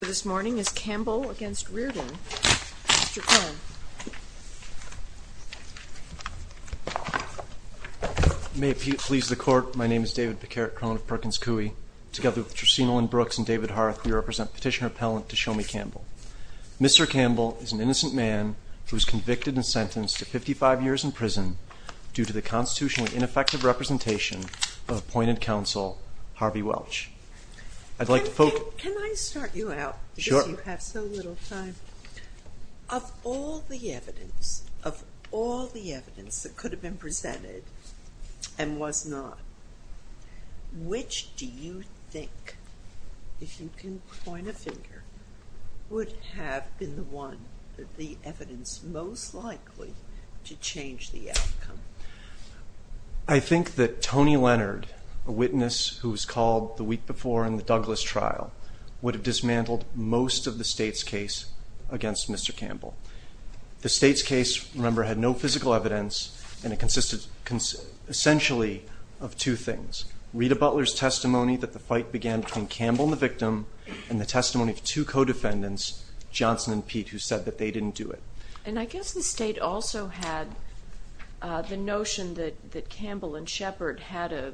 Mr. Campbell is an innocent man who was convicted and sentenced to 55 years in prison due to the constitutionally ineffective representation of appointed counsel Harvey Welch. Of all the evidence that could have been presented and was not, which do you think, if you can point a finger, would have been the evidence most likely to change the outcome? I think that Tony Leonard, a witness who was called the week before in the Douglas trial, would have dismantled most of the state's case against Mr. Campbell. The state's case, remember, had no physical evidence and it consisted essentially of two things. Rita Butler's testimony that the fight began between Campbell and the victim and the testimony of two co-defendants, Johnson and Pete, who said that they didn't do it. And I guess the state also had the notion that Campbell and Shepard had a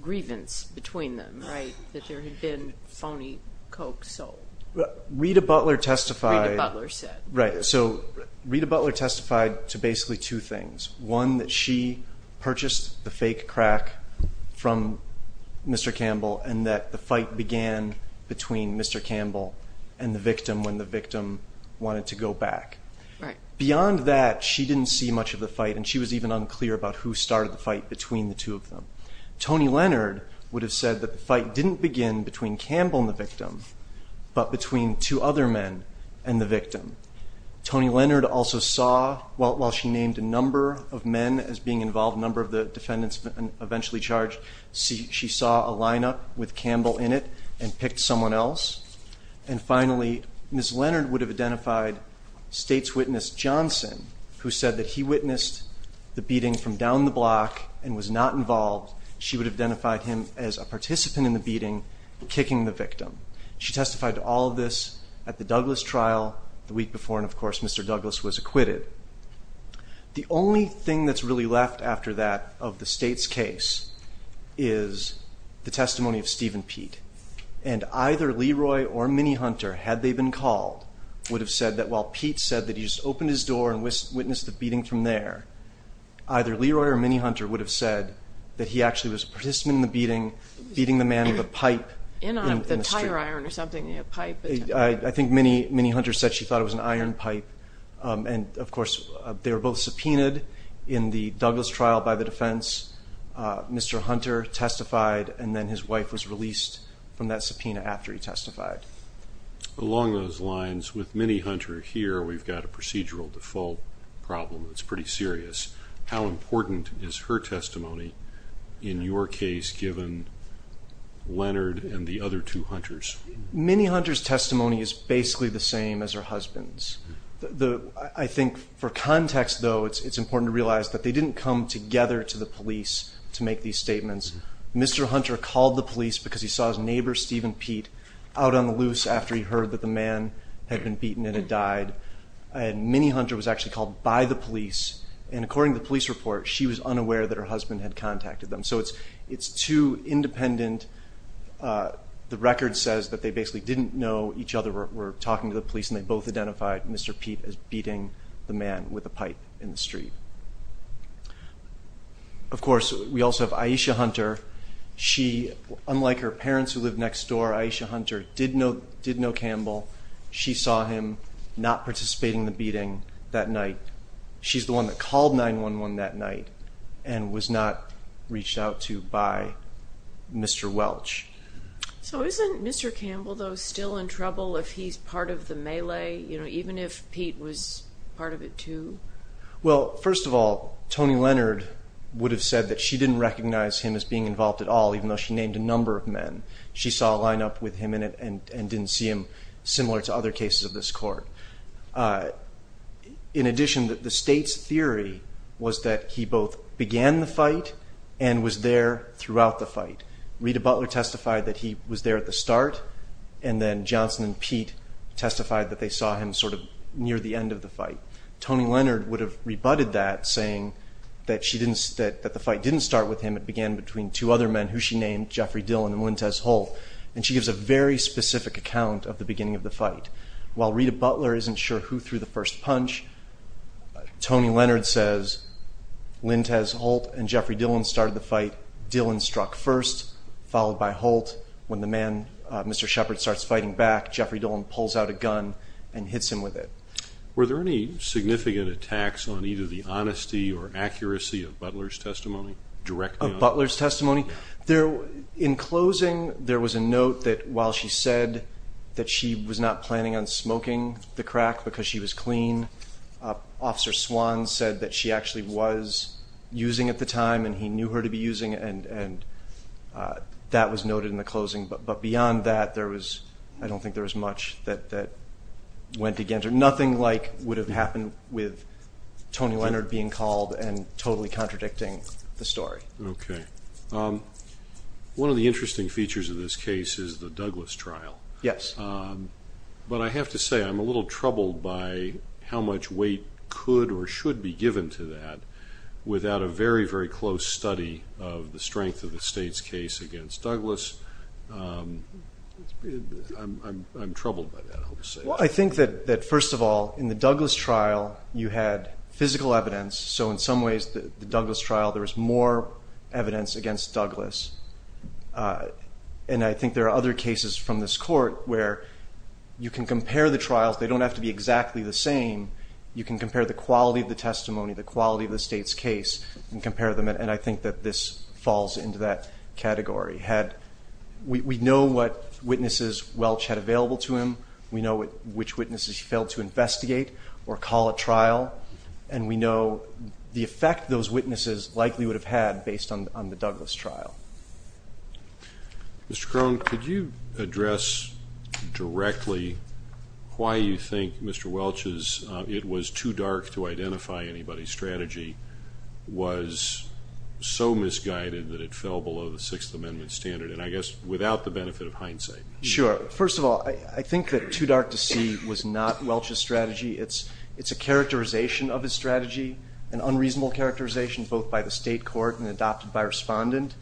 grievance between them, right, that there had been phony coke sold. Rita Butler testified to basically two things. One, that she purchased the fake crack from Mr. Campbell and that the fight began between Mr. Campbell and the victim when the victim wanted to go back. Beyond that, she didn't see much of the fight and she was even unclear about who started the fight between the two of them. Tony Leonard would have said that the fight didn't begin between Campbell and the victim, but between two other men and the victim. Tony Leonard also saw, while she named a number of men as being involved, a number of the defendants eventually charged, she saw a lineup with Campbell in it and picked someone else. And finally, Ms. Leonard would have identified state's witness Johnson, who said that he witnessed the beating from down the block and was not involved. She would have identified him as a participant in the beating, kicking the victim. She testified to all of this at the Douglas trial the week before, and of course, Mr. Douglas was acquitted. The only thing that's really left after that of the state's case is the testimony of Steve and Pete. And either Leroy or Minnie Hunter, had they been called, would have said that while Pete said that he just opened his door and witnessed the beating from there, either Leroy or Minnie Hunter would have said that he actually was a participant in the beating, beating the man with a pipe in the street. I think Minnie Hunter said she thought it was an iron pipe, and of course, they were both subpoenaed in the Douglas trial by the defense. Mr. Hunter testified, and then his wife was released from that subpoena after he testified. Along those lines, with Minnie Hunter here, we've got a procedural default problem that's pretty serious. How important is her testimony in your case, given Leonard and the other two hunters? Minnie Hunter's testimony is basically the same as her husband's. I think for context, though, it's important to realize that they didn't come together to the police to make these statements. Mr. Hunter called the police because he saw his neighbor, Steven Pete, out on the loose after he heard that the man had been beaten and had died. And Minnie Hunter was actually called by the police, and according to the police report, she was unaware that her husband had contacted them. So it's too independent. The record says that they basically didn't know each other, were talking to the police, and they both identified Mr. Pete as beating the man with a pipe in the street. Of course, we also have Aisha Hunter. She, unlike her parents who lived next door, Aisha Hunter did know Campbell. She saw him not participating in the beating that night. She's the one that called 911 that night and was not reached out to by Mr. Welch. So isn't Mr. Campbell, though, still in trouble if he's part of the melee, even if Pete was part of it too? Well, first of all, Toni Leonard would have said that she didn't recognize him as being involved at all, even though she named a number of men. She saw a lineup with him in it and didn't see him, similar to other cases of this court. In addition, the state's theory was that he both began the fight and was there throughout the fight. Rita Butler testified that he was there at the start, and then Johnson and Pete testified that they saw him sort of near the end of the fight. Toni Leonard would have rebutted that, saying that the fight didn't start with him. It began between two other men who she named, Jeffrey Dillon and Lintez Holt, and she gives a very specific account of the beginning of the fight. While Rita Butler isn't sure who threw the first punch, Toni Leonard says Lintez Holt and Jeffrey Dillon started the fight. Dillon struck first, followed by Holt. When the man, Mr. Shepard, starts fighting back, Jeffrey Dillon pulls out a gun and hits him with it. Were there any significant attacks on either the honesty or accuracy of Butler's testimony? Of Butler's testimony? In closing, there was a note that while she said that she was not planning on smoking the crack because she was clean, Officer Swan said that she actually was using at the time and he knew her to be using it, and that was noted in the closing. But beyond that, I don't think there was much that went against her. Nothing like would have happened with Toni Leonard being called and totally contradicting the story. Okay. One of the interesting features of this case is the Douglas trial. Yes. But I have to say I'm a little troubled by how much weight could or should be given to that without a very, very close study of the strength of the State's case against Douglas. I'm troubled by that, I'll just say. Well, I think that, first of all, in the Douglas trial you had physical evidence, so in some ways the Douglas trial there was more evidence against Douglas. And I think there are other cases from this court where you can compare the trials, they don't have to be exactly the same, you can compare the quality of the testimony, the quality of the State's case, and compare them, and I think that this falls into that category. We know what witnesses Welch had available to him, we know which witnesses he failed to investigate or call a trial, and we know the effect those witnesses likely would have had based on the Douglas trial. Mr. Krohn, could you address directly why you think Mr. Welch's it was too dark to identify anybody strategy was so misguided that it fell below the Sixth Amendment standard, and I guess without the benefit of hindsight. Sure. First of all, I think that too dark to see was not Welch's strategy. It's a characterization of his strategy, an unreasonable characterization both by the State court and adopted by respondent.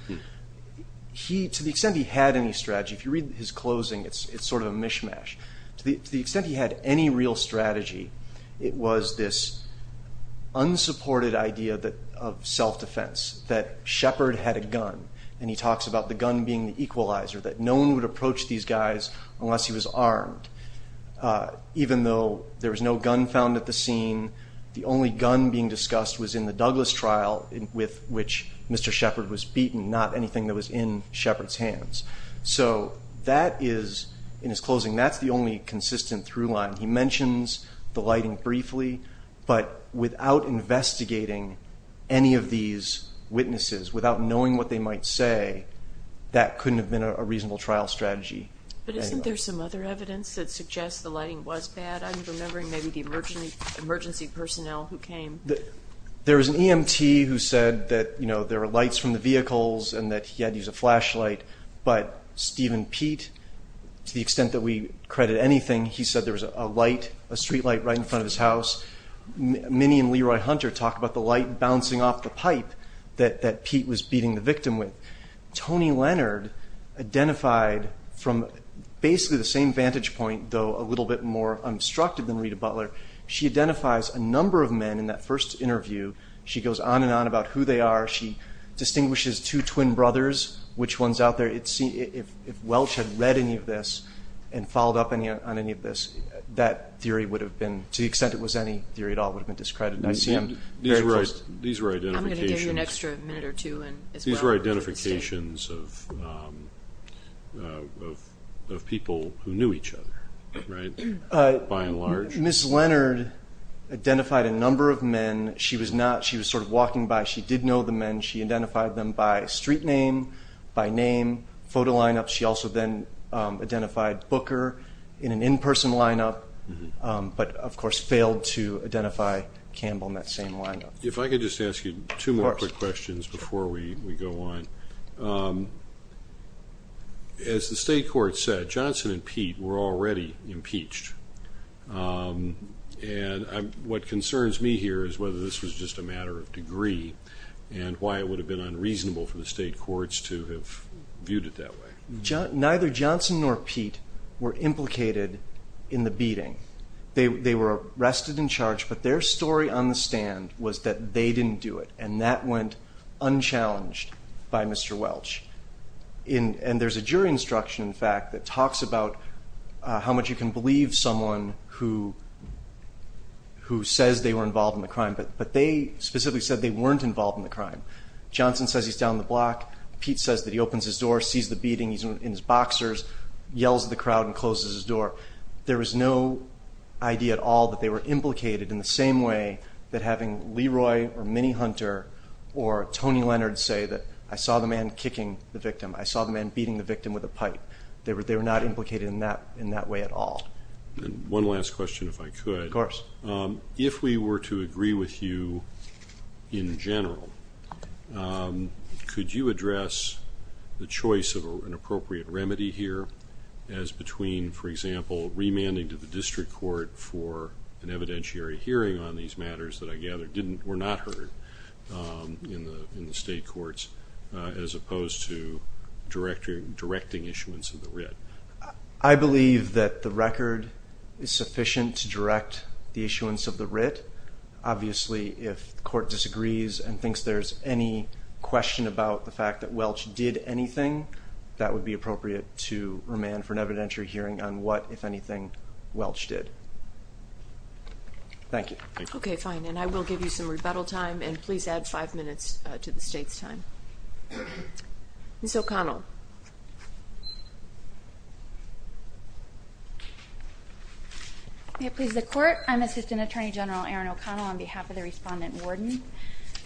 To the extent he had any strategy, if you read his closing, it's sort of a mishmash. To the extent he had any real strategy, it was this unsupported idea of self-defense, that Shepard had a gun, and he talks about the gun being the equalizer, that no one would approach these guys unless he was armed. Even though there was no gun found at the scene, the only gun being discussed was in the Douglas trial, with which Mr. Shepard was beaten, not anything that was in Shepard's hands. So that is, in his closing, that's the only consistent through line. He mentions the lighting briefly, but without investigating any of these witnesses, without knowing what they might say, that couldn't have been a reasonable trial strategy. But isn't there some other evidence that suggests the lighting was bad? I'm remembering maybe the emergency personnel who came. There was an EMT who said that there were lights from the vehicles and that he had to use a flashlight, but Steven Pete, to the extent that we credit anything, he said there was a streetlight right in front of his house. Minnie and Leroy Hunter talk about the light bouncing off the pipe that Pete was beating the victim with. Toni Leonard identified from basically the same vantage point, though a little bit more unobstructed than Rita Butler, she identifies a number of men in that first interview. She goes on and on about who they are. She distinguishes two twin brothers, which ones out there. If Welch had read any of this and followed up on any of this, that theory would have been, to the extent it was any theory at all, would have been discredited. These were identifications of people who knew each other, by and large. Ms. Leonard identified a number of men. She was sort of walking by. She did know the men. She identified them by street name, by name, photo lineup. She also then identified Booker in an in-person lineup, but of course failed to identify Campbell in that same lineup. If I could just ask you two more quick questions before we go on. As the state court said, Johnson and Pete were already impeached. And what concerns me here is whether this was just a matter of degree and why it would have been unreasonable for the state courts to have viewed it that way. Neither Johnson nor Pete were implicated in the beating. They were arrested and charged, but their story on the stand was that they didn't do it, and that went unchallenged by Mr. Welch. And there's a jury instruction, in fact, that talks about how much you can believe someone who says they were involved in the crime, but they specifically said they weren't involved in the crime. Johnson says he's down the block. Pete says that he opens his door, sees the beating, he's in his boxers, yells at the crowd and closes his door. There was no idea at all that they were implicated in the same way that having Leroy or Minnie Hunter or Tony Leonard say that I saw the man kicking the victim, I saw the man beating the victim with a pipe. They were not implicated in that way at all. One last question, if I could. Of course. If we were to agree with you in general, could you address the choice of an appropriate remedy here as between, for example, remanding to the district court for an evidentiary hearing on these matters that I gather were not heard in the state courts as opposed to directing issuance of the writ? I believe that the record is sufficient to direct the issuance of the writ. Obviously, if the court disagrees and thinks there's any question about the fact that Welch did anything, that would be appropriate to remand for an evidentiary hearing on what, if anything, Welch did. Thank you. Okay, fine. And I will give you some rebuttal time, and please add five minutes to the state's time. Ms. O'Connell. If it pleases the court, I'm Assistant Attorney General Erin O'Connell on behalf of the respondent warden.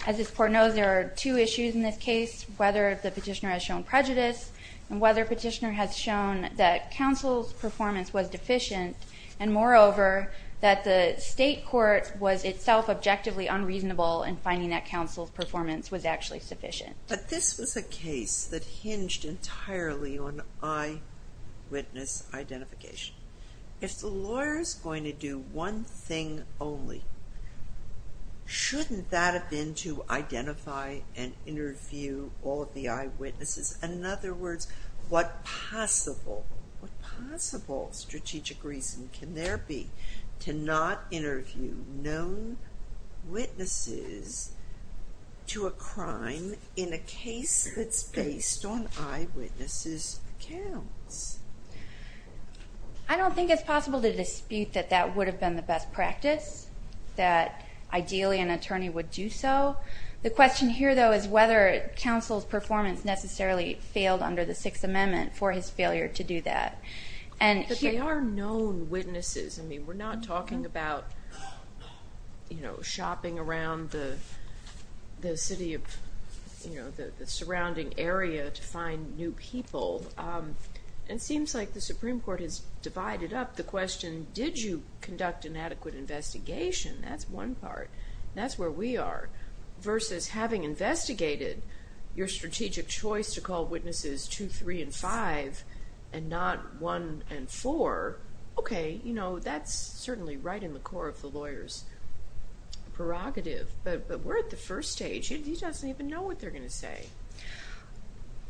As this court knows, there are two issues in this case, whether the petitioner has shown prejudice and whether the petitioner has shown that counsel's performance was deficient and, moreover, that the state court was itself objectively unreasonable in finding that counsel's performance was actually sufficient. But this was a case that hinged entirely on eyewitness identification. If the lawyer is going to do one thing only, shouldn't that have been to identify and interview all of the eyewitnesses? And, in other words, what possible, what possible strategic reason can there be to not interview known witnesses to a crime in a case that's based on eyewitnesses' accounts? I don't think it's possible to dispute that that would have been the best practice, that ideally an attorney would do so. The question here, though, is whether counsel's performance necessarily failed under the Sixth Amendment for his failure to do that. But they are known witnesses. I mean, we're not talking about, you know, shopping around the city of, you know, the surrounding area to find new people. It seems like the Supreme Court has divided up the question, did you conduct an adequate investigation? That's one part. That's where we are. Versus having investigated your strategic choice to call witnesses 2, 3, and 5 and not 1 and 4, okay, you know, that's certainly right in the core of the lawyer's prerogative. But we're at the first stage. He doesn't even know what they're going to say.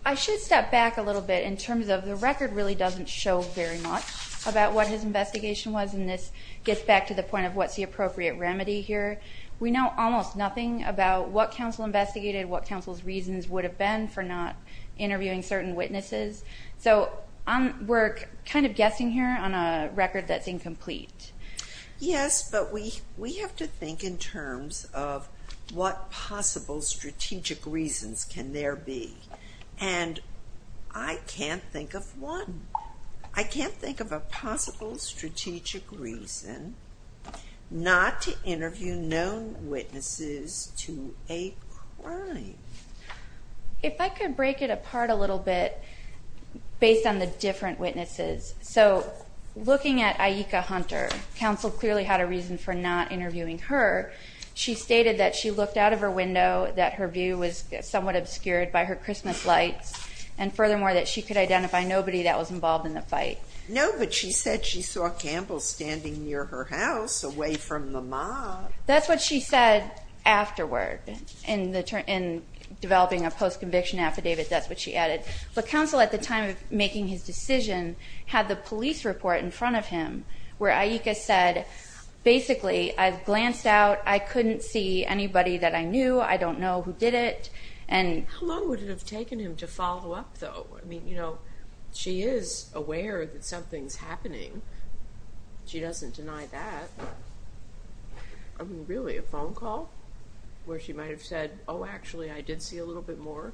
I should step back a little bit in terms of the record really doesn't show very much about what his investigation was. And this gets back to the point of what's the appropriate remedy here. We know almost nothing about what counsel investigated, what counsel's reasons would have been for not interviewing certain witnesses. So we're kind of guessing here on a record that's incomplete. Yes, but we have to think in terms of what possible strategic reasons can there be. And I can't think of one. I can't think of a possible strategic reason not to interview no witnesses to a crime. If I could break it apart a little bit based on the different witnesses. So looking at Aika Hunter, counsel clearly had a reason for not interviewing her. She stated that she looked out of her window, that her view was somewhat obscured by her Christmas lights, and furthermore that she could identify nobody that was involved in the fight. No, but she said she saw Campbell standing near her house away from the mob. That's what she said afterward in developing a post-conviction affidavit. That's what she added. But counsel at the time of making his decision had the police report in front of him where Aika said, basically, I've glanced out. I couldn't see anybody that I knew. I don't know who did it. How long would it have taken him to follow up, though? I mean, you know, she is aware that something's happening. She doesn't deny that. I mean, really, a phone call where she might have said, oh, actually, I did see a little bit more?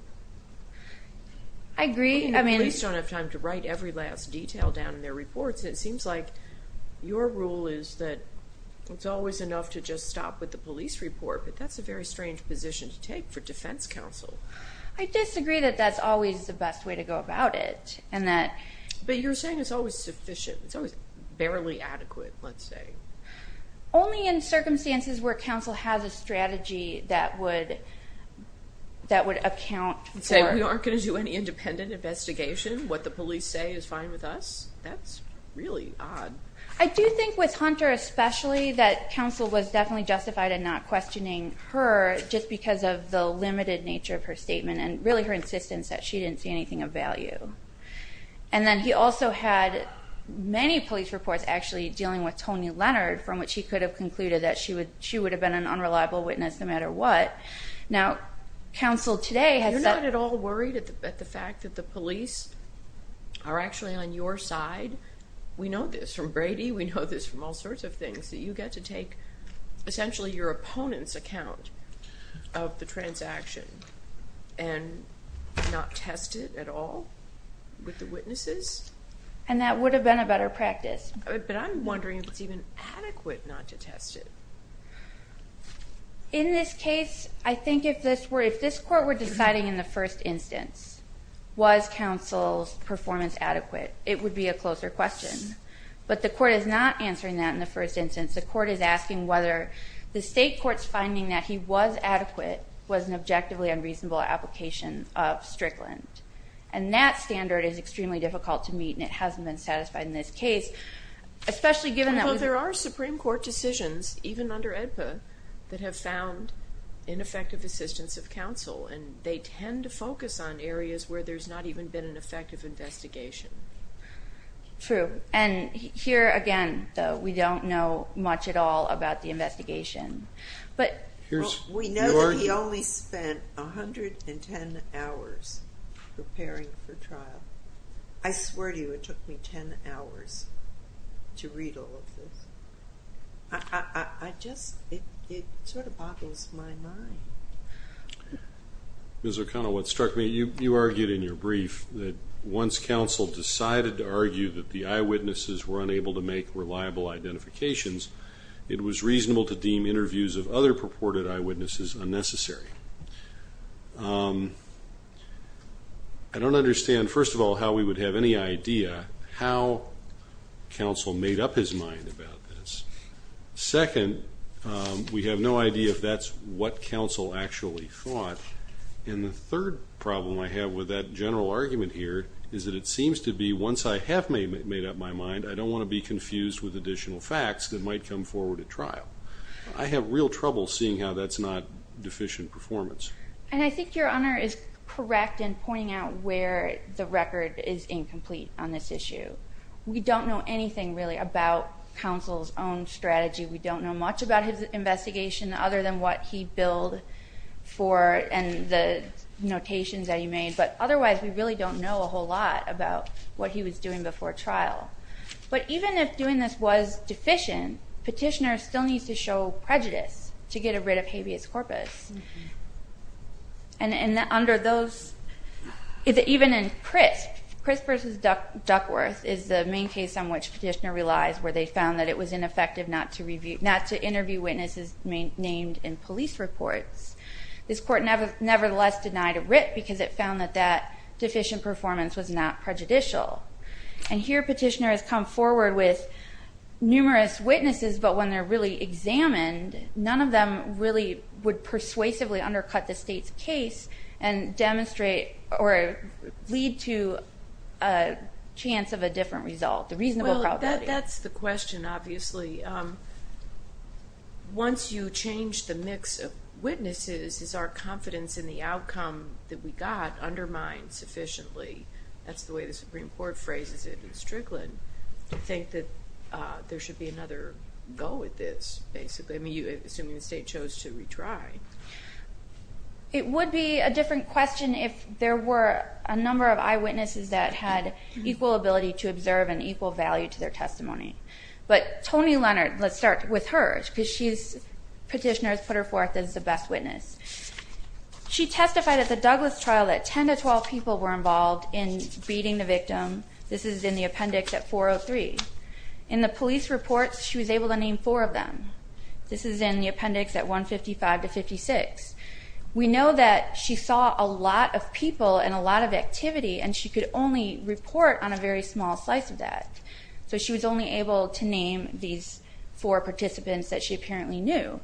I agree. The police don't have time to write every last detail down in their reports, and it seems like your rule is that it's always enough to just stop with the police report, but that's a very strange position to take for defense counsel. I disagree that that's always the best way to go about it. But you're saying it's always sufficient. It's always barely adequate, let's say. Only in circumstances where counsel has a strategy that would account for it. Say we aren't going to do any independent investigation. What the police say is fine with us. That's really odd. I do think with Hunter especially that counsel was definitely justified in not questioning her just because of the limited nature of her statement and really her insistence that she didn't see anything of value. And then he also had many police reports actually dealing with Tony Leonard, from which he could have concluded that she would have been an unreliable witness no matter what. Now, counsel today has said. You're not at all worried at the fact that the police are actually on your side? We know this from Brady, we know this from all sorts of things, that you get to take essentially your opponent's account of the transaction and not test it at all with the witnesses? And that would have been a better practice. But I'm wondering if it's even adequate not to test it. In this case, I think if this court were deciding in the first instance, was counsel's performance adequate, it would be a closer question. But the court is not answering that in the first instance. The court is asking whether the state court's finding that he was adequate was an objectively unreasonable application of Strickland. And that standard is extremely difficult to meet, and it hasn't been satisfied in this case, especially given that we've been. Well, there are Supreme Court decisions, even under AEDPA, that have found ineffective assistance of counsel, and they tend to focus on areas where there's not even been an effective investigation. True. And here again, though, we don't know much at all about the investigation. We know that he only spent 110 hours preparing for trial. I swear to you, it took me 10 hours to read all of this. I just, it sort of boggles my mind. Ms. O'Connell, what struck me, you argued in your brief that once counsel decided to argue that the eyewitnesses were unable to make reliable identifications, it was reasonable to deem interviews of other purported eyewitnesses unnecessary. I don't understand, first of all, how we would have any idea how counsel made up his mind about this. Second, we have no idea if that's what counsel actually thought. And the third problem I have with that general argument here is that it seems to be once I have made up my mind, I don't want to be confused with additional facts that might come forward at trial. I have real trouble seeing how that's not deficient performance. And I think Your Honor is correct in pointing out where the record is incomplete on this issue. We don't know anything really about counsel's own strategy. We don't know much about his investigation other than what he billed for and the notations that he made. But otherwise, we really don't know a whole lot about what he was doing before trial. But even if doing this was deficient, petitioner still needs to show prejudice to get a writ of habeas corpus. And under those, even in Crisp, Crisp v. Duckworth is the main case on which petitioner relies where they found that it was ineffective not to interview witnesses named in police reports. This court nevertheless denied a writ because it found that that deficient performance was not prejudicial. And here petitioner has come forward with numerous witnesses, but when they're really examined, none of them really would persuasively undercut the state's case and demonstrate or lead to a chance of a different result, a reasonable probability. Well, that's the question, obviously. Once you change the mix of witnesses, is our confidence in the outcome that we got undermined sufficiently? That's the way the Supreme Court phrases it in Strickland, to think that there should be another go at this, basically. I mean, assuming the state chose to retry. It would be a different question if there were a number of eyewitnesses that had equal ability to observe and equal value to their testimony. But Toni Leonard, let's start with her because she's petitioner has put her forth as the best witness. She testified at the Douglas trial that 10 to 12 people were involved in beating the victim. This is in the appendix at 403. In the police reports, she was able to name four of them. This is in the appendix at 155 to 56. We know that she saw a lot of people and a lot of activity, and she could only report on a very small slice of that. So she was only able to name these four participants that she apparently knew.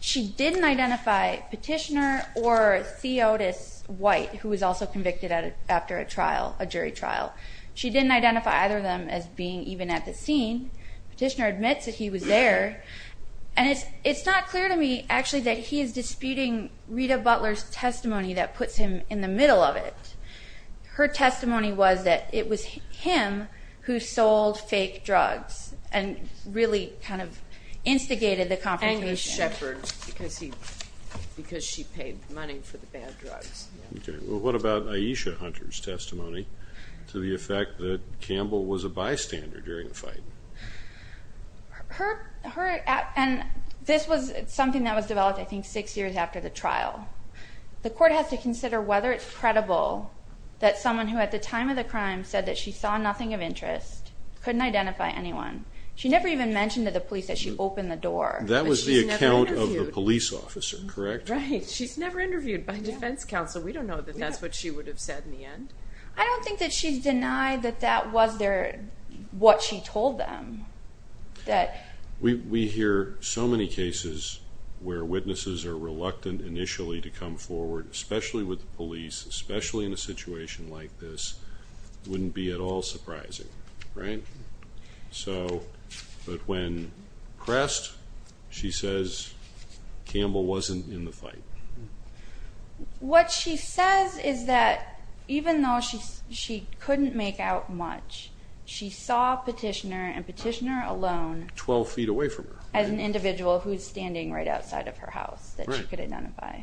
She didn't identify petitioner or Theotis White, who was also convicted after a trial, a jury trial. She didn't identify either of them as being even at the scene. Petitioner admits that he was there. And it's not clear to me, actually, that he is disputing Rita Butler's testimony that puts him in the middle of it. Her testimony was that it was him who sold fake drugs and really kind of instigated the confrontation. Because she paid money for the bad drugs. Okay. Well, what about Aisha Hunter's testimony to the effect that Campbell was a bystander during the fight? This was something that was developed, I think, six years after the trial. The court has to consider whether it's credible that someone who at the time of the crime said that she saw nothing of interest couldn't identify anyone. She never even mentioned to the police that she opened the door. That was the account of the police officer, correct? Right. She's never interviewed by defense counsel. We don't know that that's what she would have said in the end. I don't think that she's denied that that was what she told them. We hear so many cases where witnesses are reluctant initially to come forward, especially with the police, especially in a situation like this, wouldn't be at all surprising, right? But when pressed, she says Campbell wasn't in the fight. What she says is that even though she couldn't make out much, she saw Petitioner and Petitioner alone. Twelve feet away from her. As an individual who's standing right outside of her house that she could identify.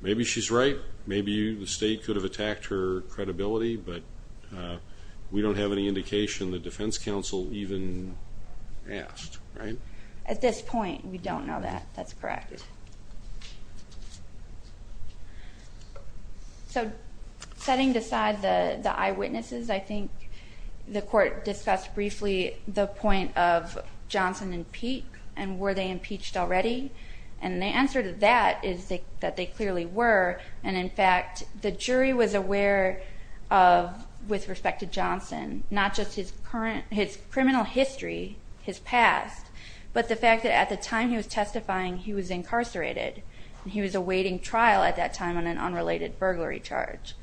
Maybe she's right. Maybe the state could have attacked her credibility, but we don't have any indication the defense counsel even asked, right? At this point, we don't know that. That's correct. So setting aside the eyewitnesses, I think the court discussed briefly the point of Johnson and Peek, and were they impeached already? And the answer to that is that they clearly were. And in fact, the jury was aware of, with respect to Johnson, not just his criminal history, his past, but the fact that at the time he was testifying, he was incarcerated. He was awaiting trial at that time on an unrelated burglary charge.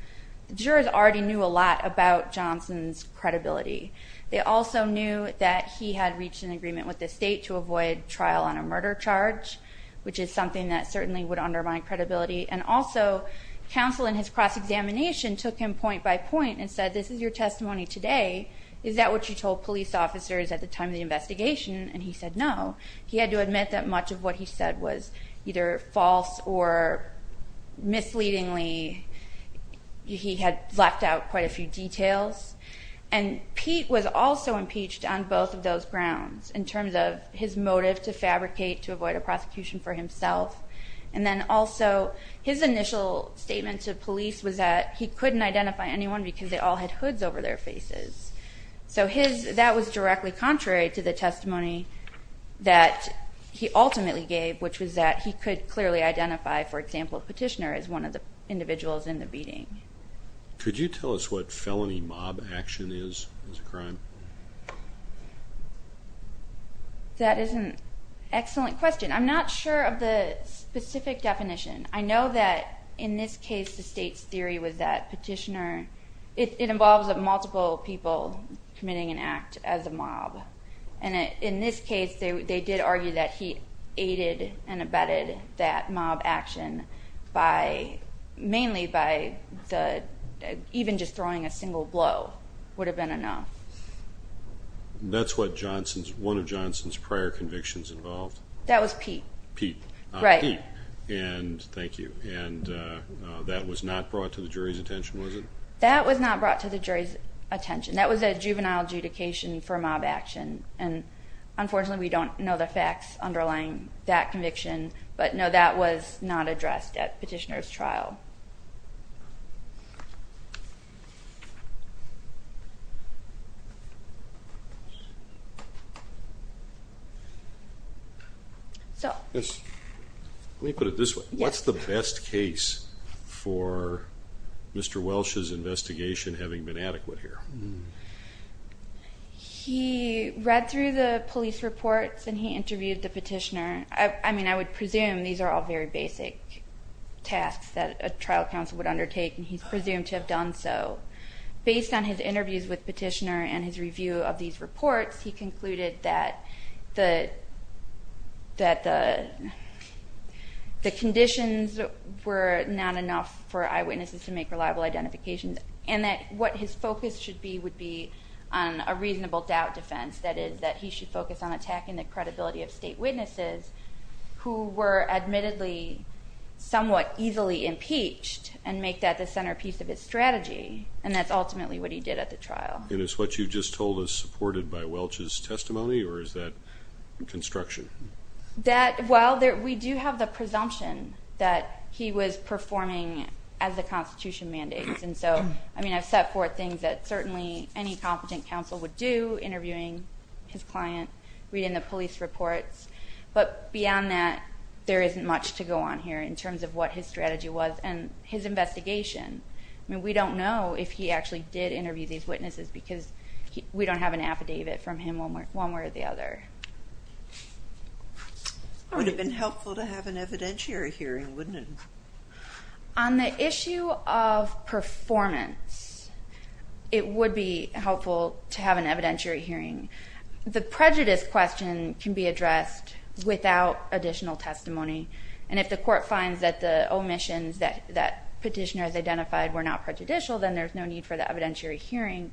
The jurors already knew a lot about Johnson's credibility. They also knew that he had reached an agreement with the state to avoid trial on a murder charge, which is something that certainly would undermine credibility. And also, counsel in his cross-examination took him point by point and said, this is your testimony today. Is that what you told police officers at the time of the investigation? And he said no. He had to admit that much of what he said was either false or misleadingly. He had blacked out quite a few details. And Peek was also impeached on both of those grounds, in terms of his motive to fabricate to avoid a prosecution for himself. And then also, his initial statement to police was that he couldn't identify anyone because they all had hoods over their faces. So that was directly contrary to the testimony that he ultimately gave, which was that he could clearly identify, for example, a petitioner as one of the individuals in the beating. Could you tell us what felony mob action is, as a crime? That is an excellent question. I'm not sure of the specific definition. I know that, in this case, the state's theory was that petitioner – it involves multiple people committing an act as a mob. And in this case, they did argue that he aided and abetted that mob action mainly by even just throwing a single blow would have been enough. That's one of Johnson's prior convictions involved? That was Peek. Peek. Right. Peek. Thank you. And that was not brought to the jury's attention, was it? That was not brought to the jury's attention. That was a juvenile adjudication for mob action. And unfortunately, we don't know the facts underlying that conviction. But, no, that was not addressed at petitioner's trial. Let me put it this way. What's the best case for Mr. Welsh's investigation having been adequate here? He read through the police reports and he interviewed the petitioner. I mean, I would presume these are all very basic tasks that a trial counsel would undertake, and he's presumed to have done so. Based on his interviews with petitioner and his review of these reports, he concluded that the conditions were not enough for eyewitnesses to make reliable identifications and that what his focus should be would be on a reasonable doubt defense, that is, that he should focus on attacking the credibility of state witnesses who were admittedly somewhat easily impeached and make that the centerpiece of his strategy. And that's ultimately what he did at the trial. And is what you just told us supported by Welsh's testimony, or is that construction? Well, we do have the presumption that he was performing as the Constitution mandates. And so, I mean, I've set forth things that certainly any competent counsel would do, interviewing his client, reading the police reports. But beyond that, there isn't much to go on here in terms of what his strategy was and his investigation. I mean, we don't know if he actually did interview these witnesses because we don't have an affidavit from him one way or the other. It would have been helpful to have an evidentiary hearing, wouldn't it? On the issue of performance, it would be helpful to have an evidentiary hearing. The prejudice question can be addressed without additional testimony. And if the court finds that the omissions that petitioners identified were not prejudicial, then there's no need for the evidentiary hearing.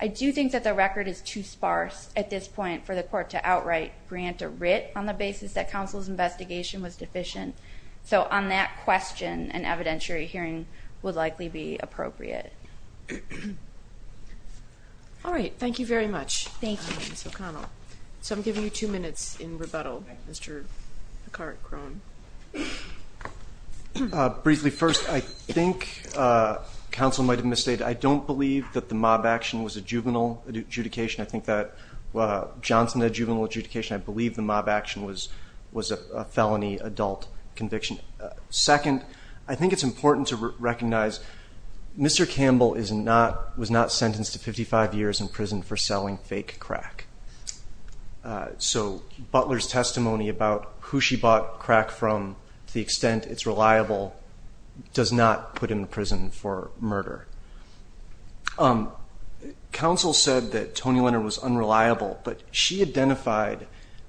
I do think that the record is too sparse at this point for the court to outright grant a writ on the basis that counsel's investigation was deficient. So on that question, an evidentiary hearing would likely be appropriate. All right. Thank you very much, Ms. O'Connell. So I'm giving you two minutes in rebuttal, Mr. Picard-Crone. Briefly, first, I think counsel might have misstated, I don't believe that the mob action was a juvenile adjudication. I think that Johnson had a juvenile adjudication. I believe the mob action was a felony adult conviction. Second, I think it's important to recognize Mr. Campbell was not sentenced to 55 years in prison for selling fake crack. So Butler's testimony about who she bought crack from, to the extent it's reliable, does not put him in prison for murder. Counsel said that Tony Leonard was unreliable, but she identified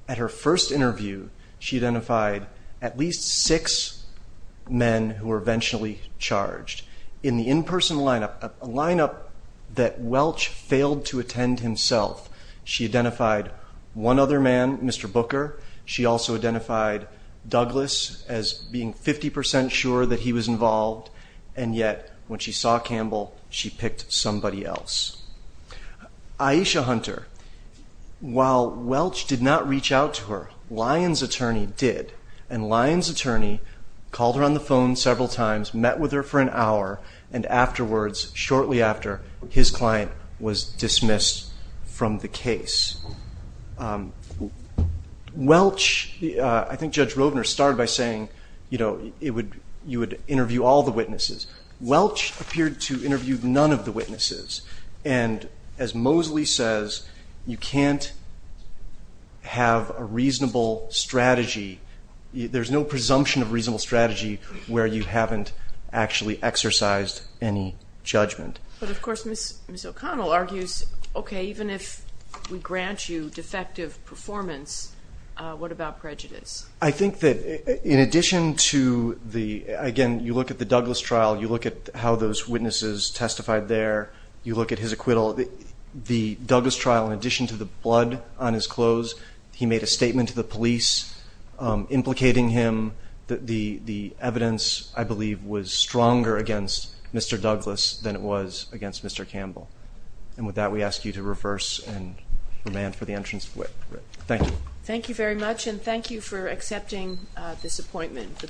at her first interview, she identified at least six men who were eventually charged. In the in-person lineup, a lineup that Welch failed to attend himself, she identified one other man, Mr. Booker. She also identified Douglas as being 50 percent sure that he was involved, and yet when she saw Campbell, she picked somebody else. Aisha Hunter, while Welch did not reach out to her, Lyons' attorney did, and Lyons' attorney called her on the phone several times, met with her for an hour, and afterwards, shortly after, his client was dismissed from the case. Welch, I think Judge Rovner started by saying, you know, you would interview all the witnesses. Welch appeared to interview none of the witnesses, and as Mosley says, you can't have a reasonable strategy. There's no presumption of a reasonable strategy where you haven't actually exercised any judgment. But, of course, Ms. O'Connell argues, okay, even if we grant you defective performance, what about prejudice? I think that in addition to the, again, you look at the Douglas trial, you look at how those witnesses testified there, you look at his acquittal. The Douglas trial, in addition to the blood on his clothes, he made a statement to the police implicating him that the evidence, I believe, was stronger against Mr. Douglas than it was against Mr. Campbell. And with that, we ask you to reverse and remand for the entrance. Thank you. Thank you very much, and thank you for accepting this appointment.